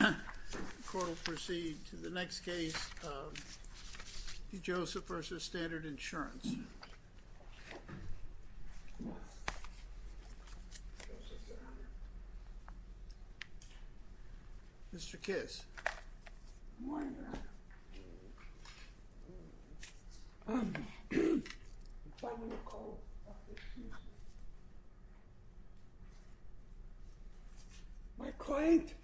The court will proceed to the next case, Di Joseph v. Standard Insurance. Mr. Kiss. My client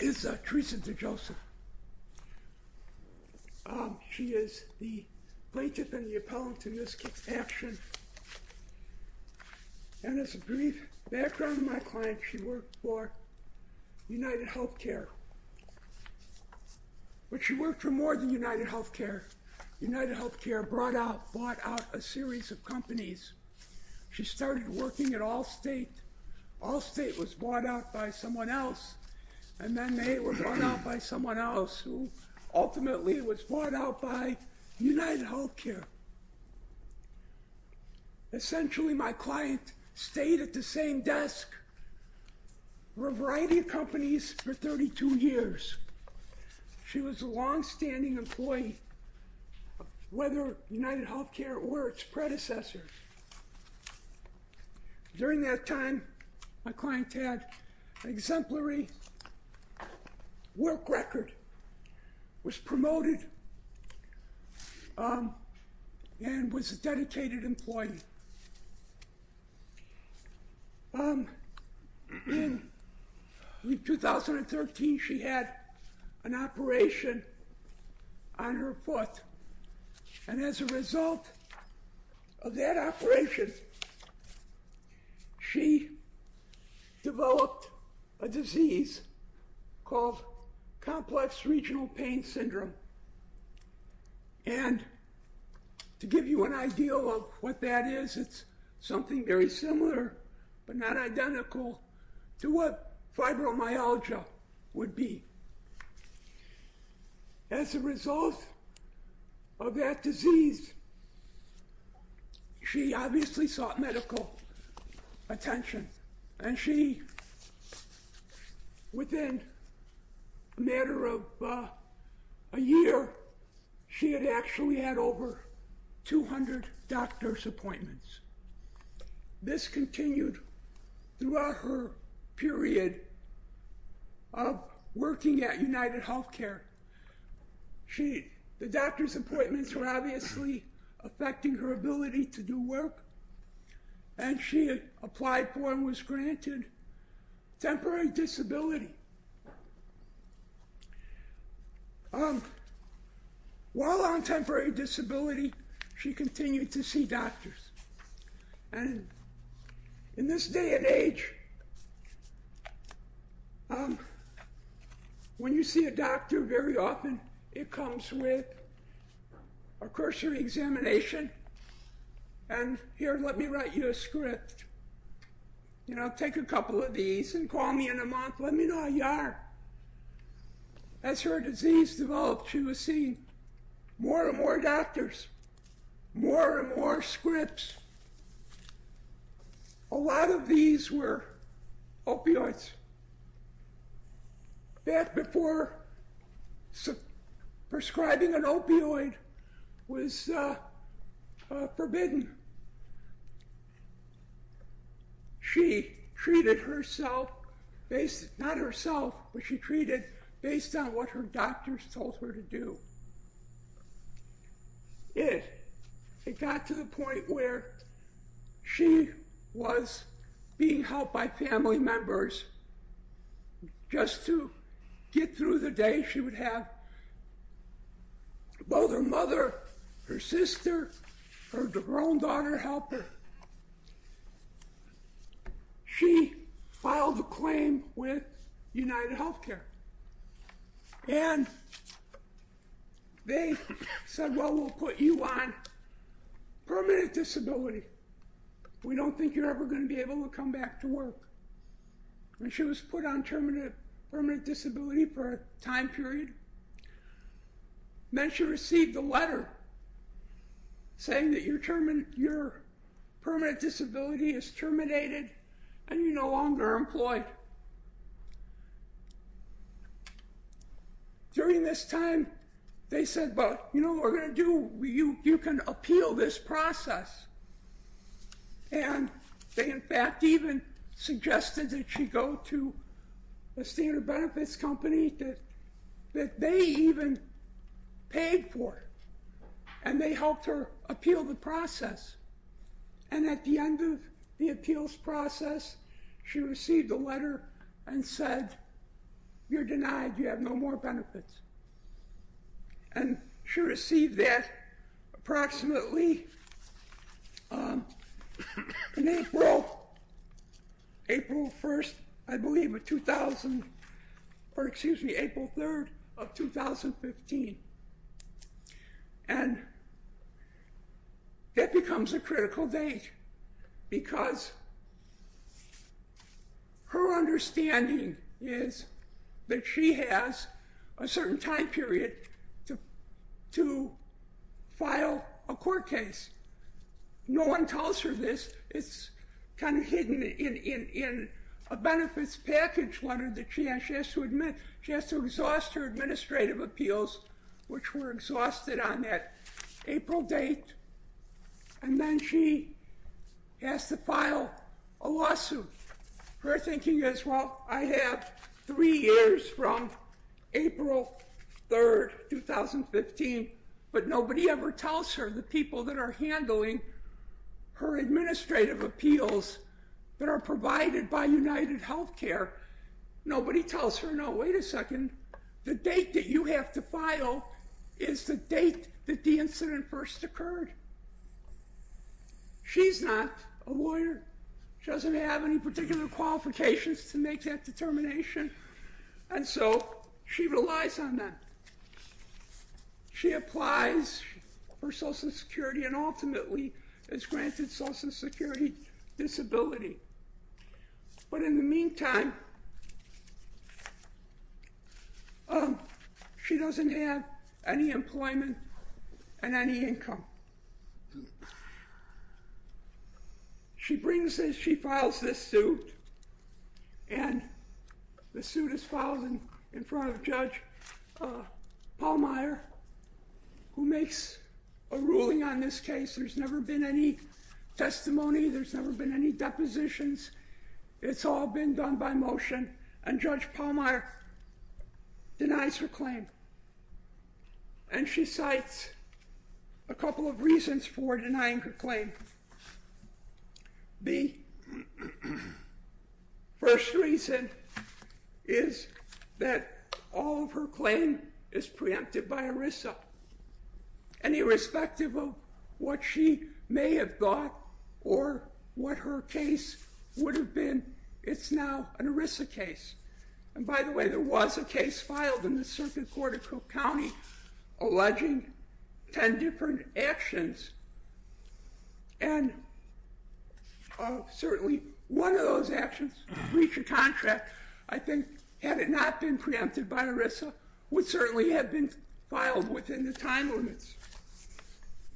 is Theresa Di Joseph. She is the plaintiff and the appellant in this action. And as a brief background to my client, she worked for UnitedHealthcare. But she worked for more than UnitedHealthcare. UnitedHealthcare brought out, bought out a series of companies. She started working at Allstate. Allstate was bought out by someone else, and then they were bought out by someone else, who ultimately was bought out by UnitedHealthcare. Essentially, my client stayed at the same desk for a variety of companies for 32 years. She was a longstanding employee, whether UnitedHealthcare or its predecessor. During that time, my client had an exemplary work record, was promoted, and was a dedicated employee. In 2013, she had an operation on her foot, and as a result of that operation, she developed a disease called Complex Regional Pain Syndrome. And to give you an idea of what that is, it's something very similar, but not identical, to what fibromyalgia would be. As a result of that disease, she obviously sought medical attention, and she, within a matter of a year, she had actually had over 200 doctor's appointments. This continued throughout her period of working at UnitedHealthcare. The doctor's appointments were obviously affecting her ability to do work, and she applied for and was granted temporary disability. While on temporary disability, she continued to see doctors, and in this day and age, when you see a doctor very often, it comes with a cursory examination. And here, let me write you a script. You know, take a couple of these and call me in a month, let me know how you are. As her disease developed, she was seeing more and more doctors, more and more scripts. A lot of these were opioids. Back before prescribing an opioid was forbidden, she treated herself, not herself, but she treated based on what her doctors told her to do. It got to the point where she was being helped by family members. Just to get through the day, she would have both her mother, her sister, her own daughter help her. She filed a claim with UnitedHealthcare, and they said, well, we'll put you on permanent disability. We don't think you're ever going to be able to come back to work. When she was put on permanent disability for a time period, then she received a letter saying that your permanent disability is terminated and you're no longer employed. During this time, they said, well, you know what we're going to do? You can appeal this process. And they in fact even suggested that she go to a standard benefits company that they even paid for, and they helped her appeal the process. And at the end of the appeals process, she received a letter and said, you're denied. You have no more benefits. And she received that approximately April 1st, I believe, of 2000, or excuse me, April 3rd of 2015. And that becomes a critical date because her understanding is that she has a certain time period to file a court case. No one tells her this. It's kind of hidden in a benefits package letter that she has to exhaust her administrative appeals, which were exhausted on that April date. And then she has to file a lawsuit. Her thinking is, well, I have three years from April 3rd, 2015, but nobody ever tells her. The people that are handling her administrative appeals that are provided by UnitedHealthcare, nobody tells her, no, wait a second. The date that you have to file is the date that the incident first occurred. She's not a lawyer. She doesn't have any particular qualifications to make that determination. And so she relies on that. She applies for Social Security and ultimately is granted Social Security disability. But in the meantime, she doesn't have any employment and any income. She brings this, she files this suit, and the suit is filed in front of Judge Pallmeyer, who makes a ruling on this case. There's never been any testimony. There's never been any depositions. It's all been done by motion, and Judge Pallmeyer denies her claim. And she cites a couple of reasons for denying her claim. The first reason is that all of her claim is preempted by ERISA. And irrespective of what she may have thought or what her case would have been, it's now an ERISA case. And by the way, there was a case filed in the Circuit Court of Cook County alleging 10 different actions. And certainly one of those actions, breach of contract, I think, had it not been preempted by ERISA, would certainly have been filed within the time limits.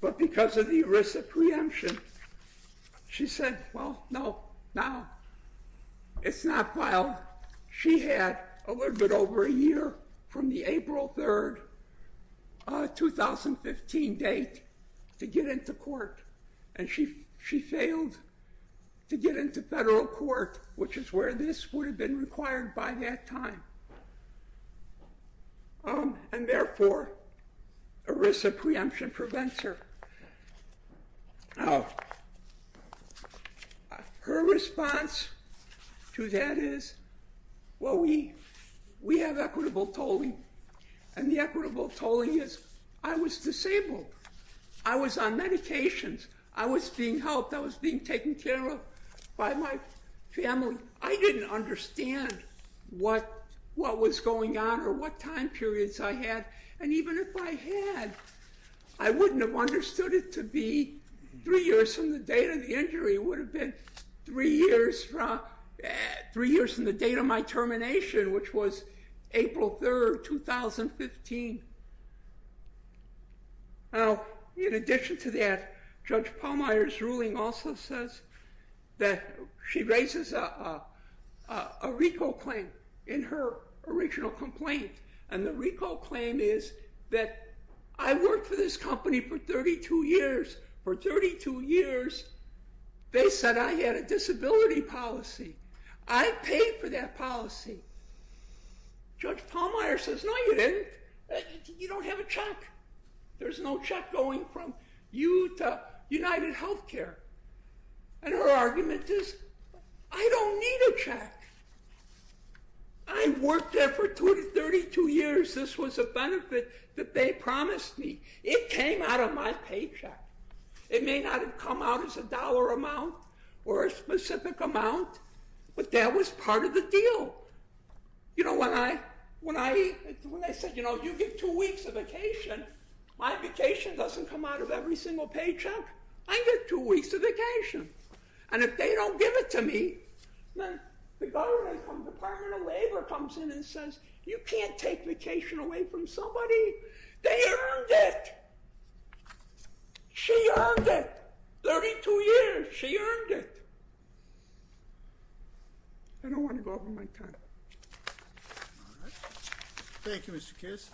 But because of the ERISA preemption, she said, well, no, no, it's not filed. She had a little bit over a year from the April 3rd, 2015 date to get into court. And she failed to get into federal court, which is where this would have been required by that time. And therefore, ERISA preemption prevents her. Now, her response to that is, well, we have equitable tolling. And the equitable tolling is, I was disabled. I was on medications. I was being helped. I was being taken care of by my family. I didn't understand what was going on or what time periods I had. And even if I had, I wouldn't have understood it to be three years from the date of the injury. It would have been three years from the date of my termination, which was April 3rd, 2015. Now, in addition to that, Judge Pallmeyer's ruling also says that she raises a RICO claim in her original complaint. And the RICO claim is that I worked for this company for 32 years. For 32 years, they said I had a disability policy. I paid for that policy. Judge Pallmeyer says, no, you didn't. You don't have a check. There's no check going from you to UnitedHealthcare. And her argument is, I don't need a check. I worked there for 32 years. This was a benefit that they promised me. It came out of my paycheck. It may not have come out as a dollar amount or a specific amount, but that was part of the deal. You know, when I said, you know, you get two weeks of vacation, my vacation doesn't come out of every single paycheck. I get two weeks of vacation. And if they don't give it to me, the Department of Labor comes in and says, you can't take vacation away from somebody. They earned it. She earned it. 32 years, she earned it. I don't want to go over my time. Thank you, Mr. Kiss.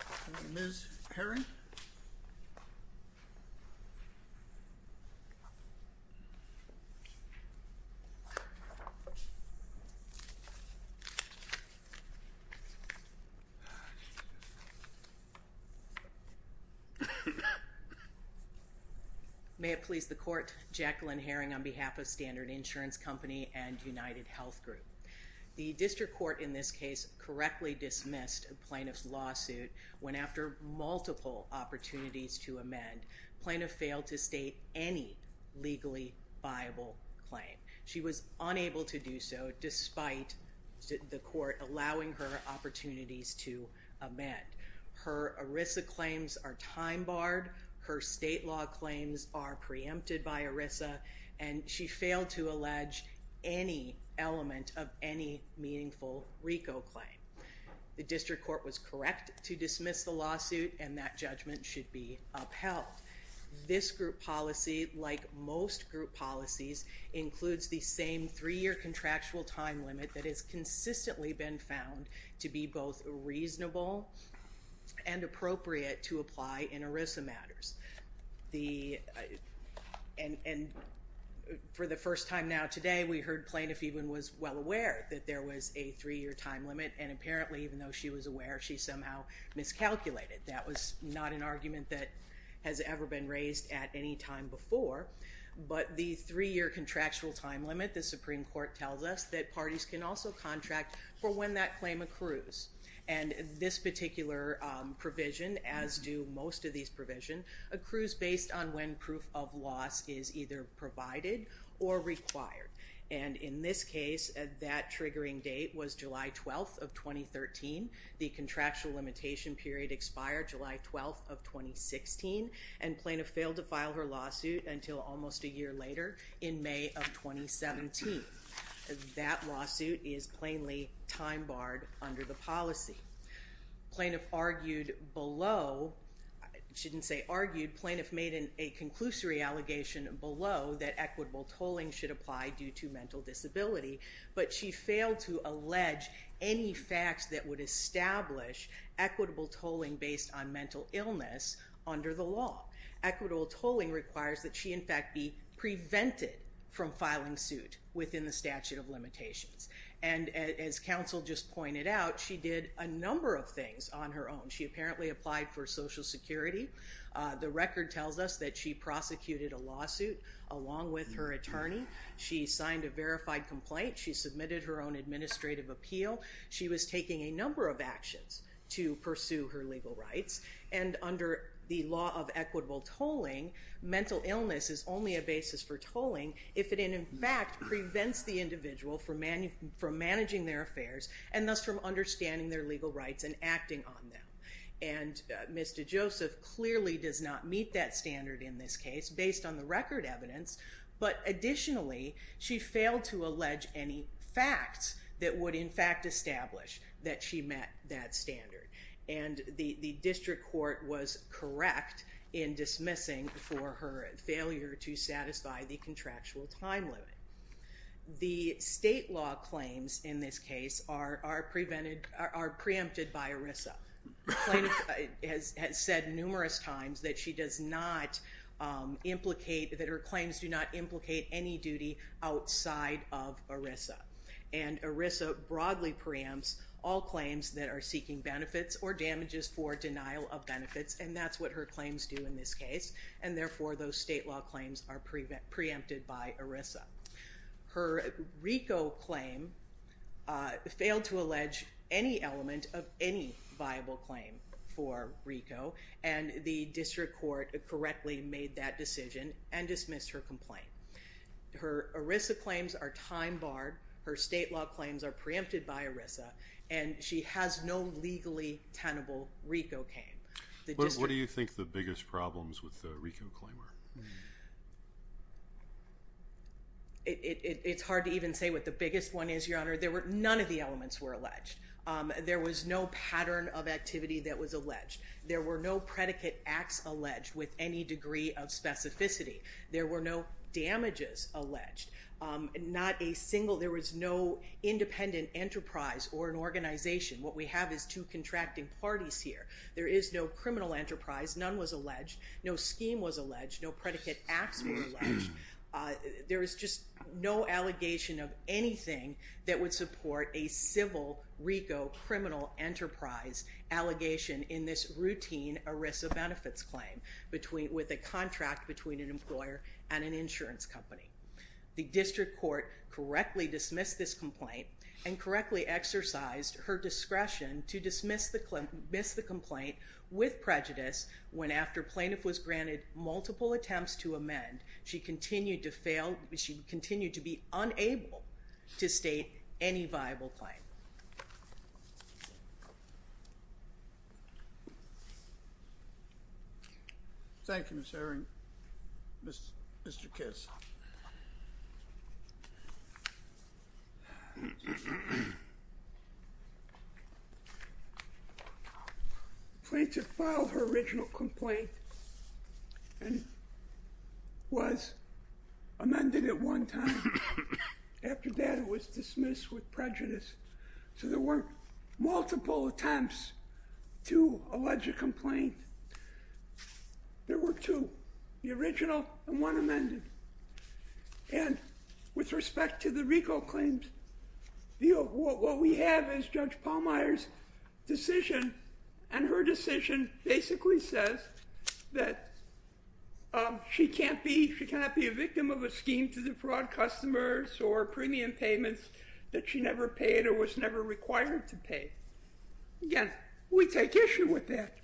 Ms. Herring? May it please the court, Jacqueline Herring on behalf of Standard Insurance Company and UnitedHealth Group. The district court in this case correctly dismissed a plaintiff's lawsuit when after multiple opportunities to amend, plaintiff failed to state any legally viable alternative. She was unable to do so despite the court allowing her opportunities to amend. Her ERISA claims are time barred. Her state law claims are preempted by ERISA, and she failed to allege any element of any meaningful RICO claim. The district court was correct to dismiss the lawsuit, and that judgment should be upheld. This group policy, like most group policies, includes the same three-year contractual time limit that has consistently been found to be both reasonable and appropriate to apply in ERISA matters. And for the first time now today, we heard plaintiff even was well aware that there was a three-year time limit, and apparently even though she was aware, she somehow miscalculated. That was not an argument that has ever been raised at any time before, but the three-year contractual time limit, the Supreme Court tells us, that parties can also contract for when that claim accrues. And this particular provision, as do most of these provisions, accrues based on when proof of loss is either provided or required. And in this case, that triggering date was July 12th of 2013. The contractual limitation period expired July 12th of 2016, and plaintiff failed to file her lawsuit until almost a year later in May of 2017. That lawsuit is plainly time barred under the policy. Plaintiff argued below, I shouldn't say argued, plaintiff made a conclusory allegation below that equitable tolling should apply due to mental disability, but she failed to allege any facts that would establish equitable tolling based on mental illness under the law. Equitable tolling requires that she in fact be prevented from filing suit within the statute of limitations. And as counsel just pointed out, she did a number of things on her own. She apparently applied for Social Security. The record tells us that she prosecuted a lawsuit along with her attorney. She signed a verified complaint. She submitted her own administrative appeal. She was taking a number of actions to pursue her legal rights. And under the law of equitable tolling, mental illness is only a basis for tolling if it in fact prevents the individual from managing their affairs and thus from understanding their legal rights and acting on them. And Ms. DeJoseph clearly does not meet that standard in this case based on the record evidence. But additionally, she failed to allege any facts that would in fact establish that she met that standard. And the district court was correct in dismissing for her failure to satisfy the contractual time limit. The state law claims in this case are preempted by ERISA. Ms. DeJoseph has said numerous times that she does not implicate, that her claims do not implicate any duty outside of ERISA. And ERISA broadly preempts all claims that are seeking benefits or damages for denial of benefits, and that's what her claims do in this case. And therefore, those state law claims are preempted by ERISA. Her RICO claim failed to allege any element of any viable claim for RICO. And the district court correctly made that decision and dismissed her complaint. Her ERISA claims are time barred. Her state law claims are preempted by ERISA. And she has no legally tenable RICO claim. What do you think the biggest problems with the RICO claim are? It's hard to even say what the biggest one is, Your Honor. None of the elements were alleged. There was no pattern of activity that was alleged. There were no predicate acts alleged with any degree of specificity. There were no damages alleged. Not a single, there was no independent enterprise or an organization. What we have is two contracting parties here. There is no criminal enterprise. None was alleged. No scheme was alleged. No predicate acts were alleged. There was just no allegation of anything that would support a civil RICO criminal enterprise allegation in this routine ERISA benefits claim with a contract between an employer and an insurance company. The district court correctly dismissed this complaint and correctly exercised her discretion to dismiss the complaint with prejudice when after plaintiff was granted multiple attempts to amend, she continued to fail, she continued to be unable to state any viable claim. Thank you, Ms. Herring. Mr. Kiss. The plaintiff filed her original complaint and was amended at one time. After that, it was dismissed with prejudice. So there weren't multiple attempts to allege a complaint. There were two, the original and one amended. And with respect to the RICO claims, what we have is Judge Pallmeyer's decision and her decision basically says that she cannot be a victim of a scheme to defraud customers or premium payments that she never paid or was never required to pay. Again, we take issue with that.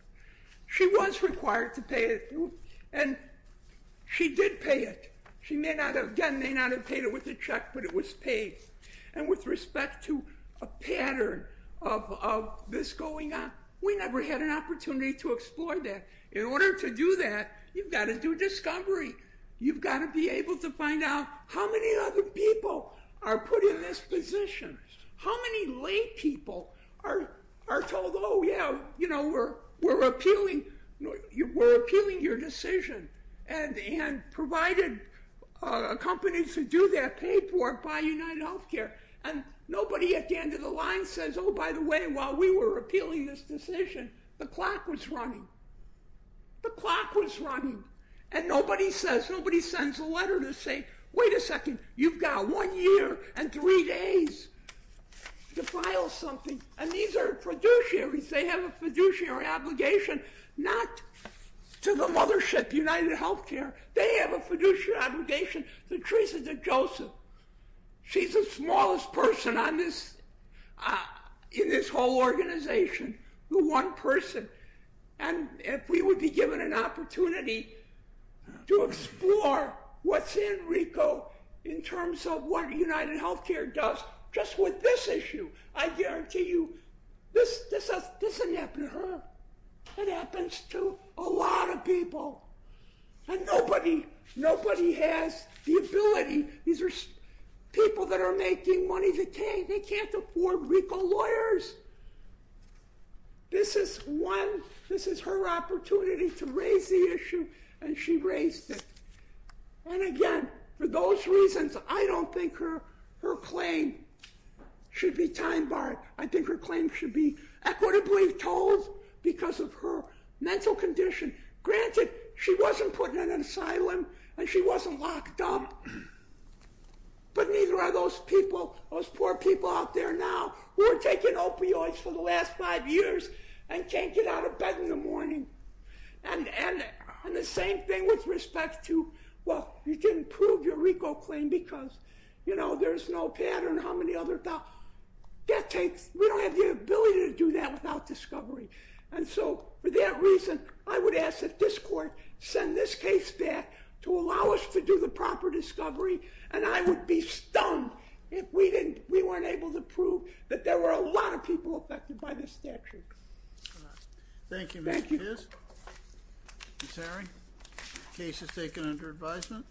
She was required to pay it and she did pay it. She may not have, again, may not have paid it with a check, but it was paid. And with respect to a pattern of this going on, we never had an opportunity to explore that. In order to do that, you've got to do discovery. You've got to be able to find out how many other people are put in this position. How many lay people are told, oh, yeah, we're appealing your decision and provided companies to do their paperwork by UnitedHealthcare and nobody at the end of the line says, oh, by the way, while we were appealing this decision, the clock was running. The clock was running. And nobody says, nobody sends a letter to say, wait a second, you've got one year and three days to file something. And these are fiduciaries. They have a fiduciary obligation not to the mothership, UnitedHealthcare. They have a fiduciary obligation to Teresa DeJoseph. She's the smallest person in this whole organization, the one person. And if we would be given an opportunity to explore what's in RICO in terms of what UnitedHealthcare does just with this issue, I guarantee you this doesn't happen to her. It happens to a lot of people. And nobody has the ability. These are people that are making money. They can't afford RICO lawyers. This is one. This is her opportunity to raise the issue, and she raised it. And again, for those reasons, I don't think her claim should be time-barred. I think her claim should be equitably told because of her mental condition. Granted, she wasn't put in an asylum and she wasn't locked up, but neither are those people, those poor people out there now who are taking opioids for the last five years and can't get out of bed in the morning. And the same thing with respect to, well, you didn't prove your RICO claim because, you know, there's no pattern, how many other thoughts. We don't have the ability to do that without discovery. And so for that reason, I would ask that this court send this case back to allow us to do the proper discovery, and I would be stunned if we weren't able to prove that there were a lot of people affected by this statute. Thank you, Mr. Pierce. Ms. Harry, the case is taken under advisement.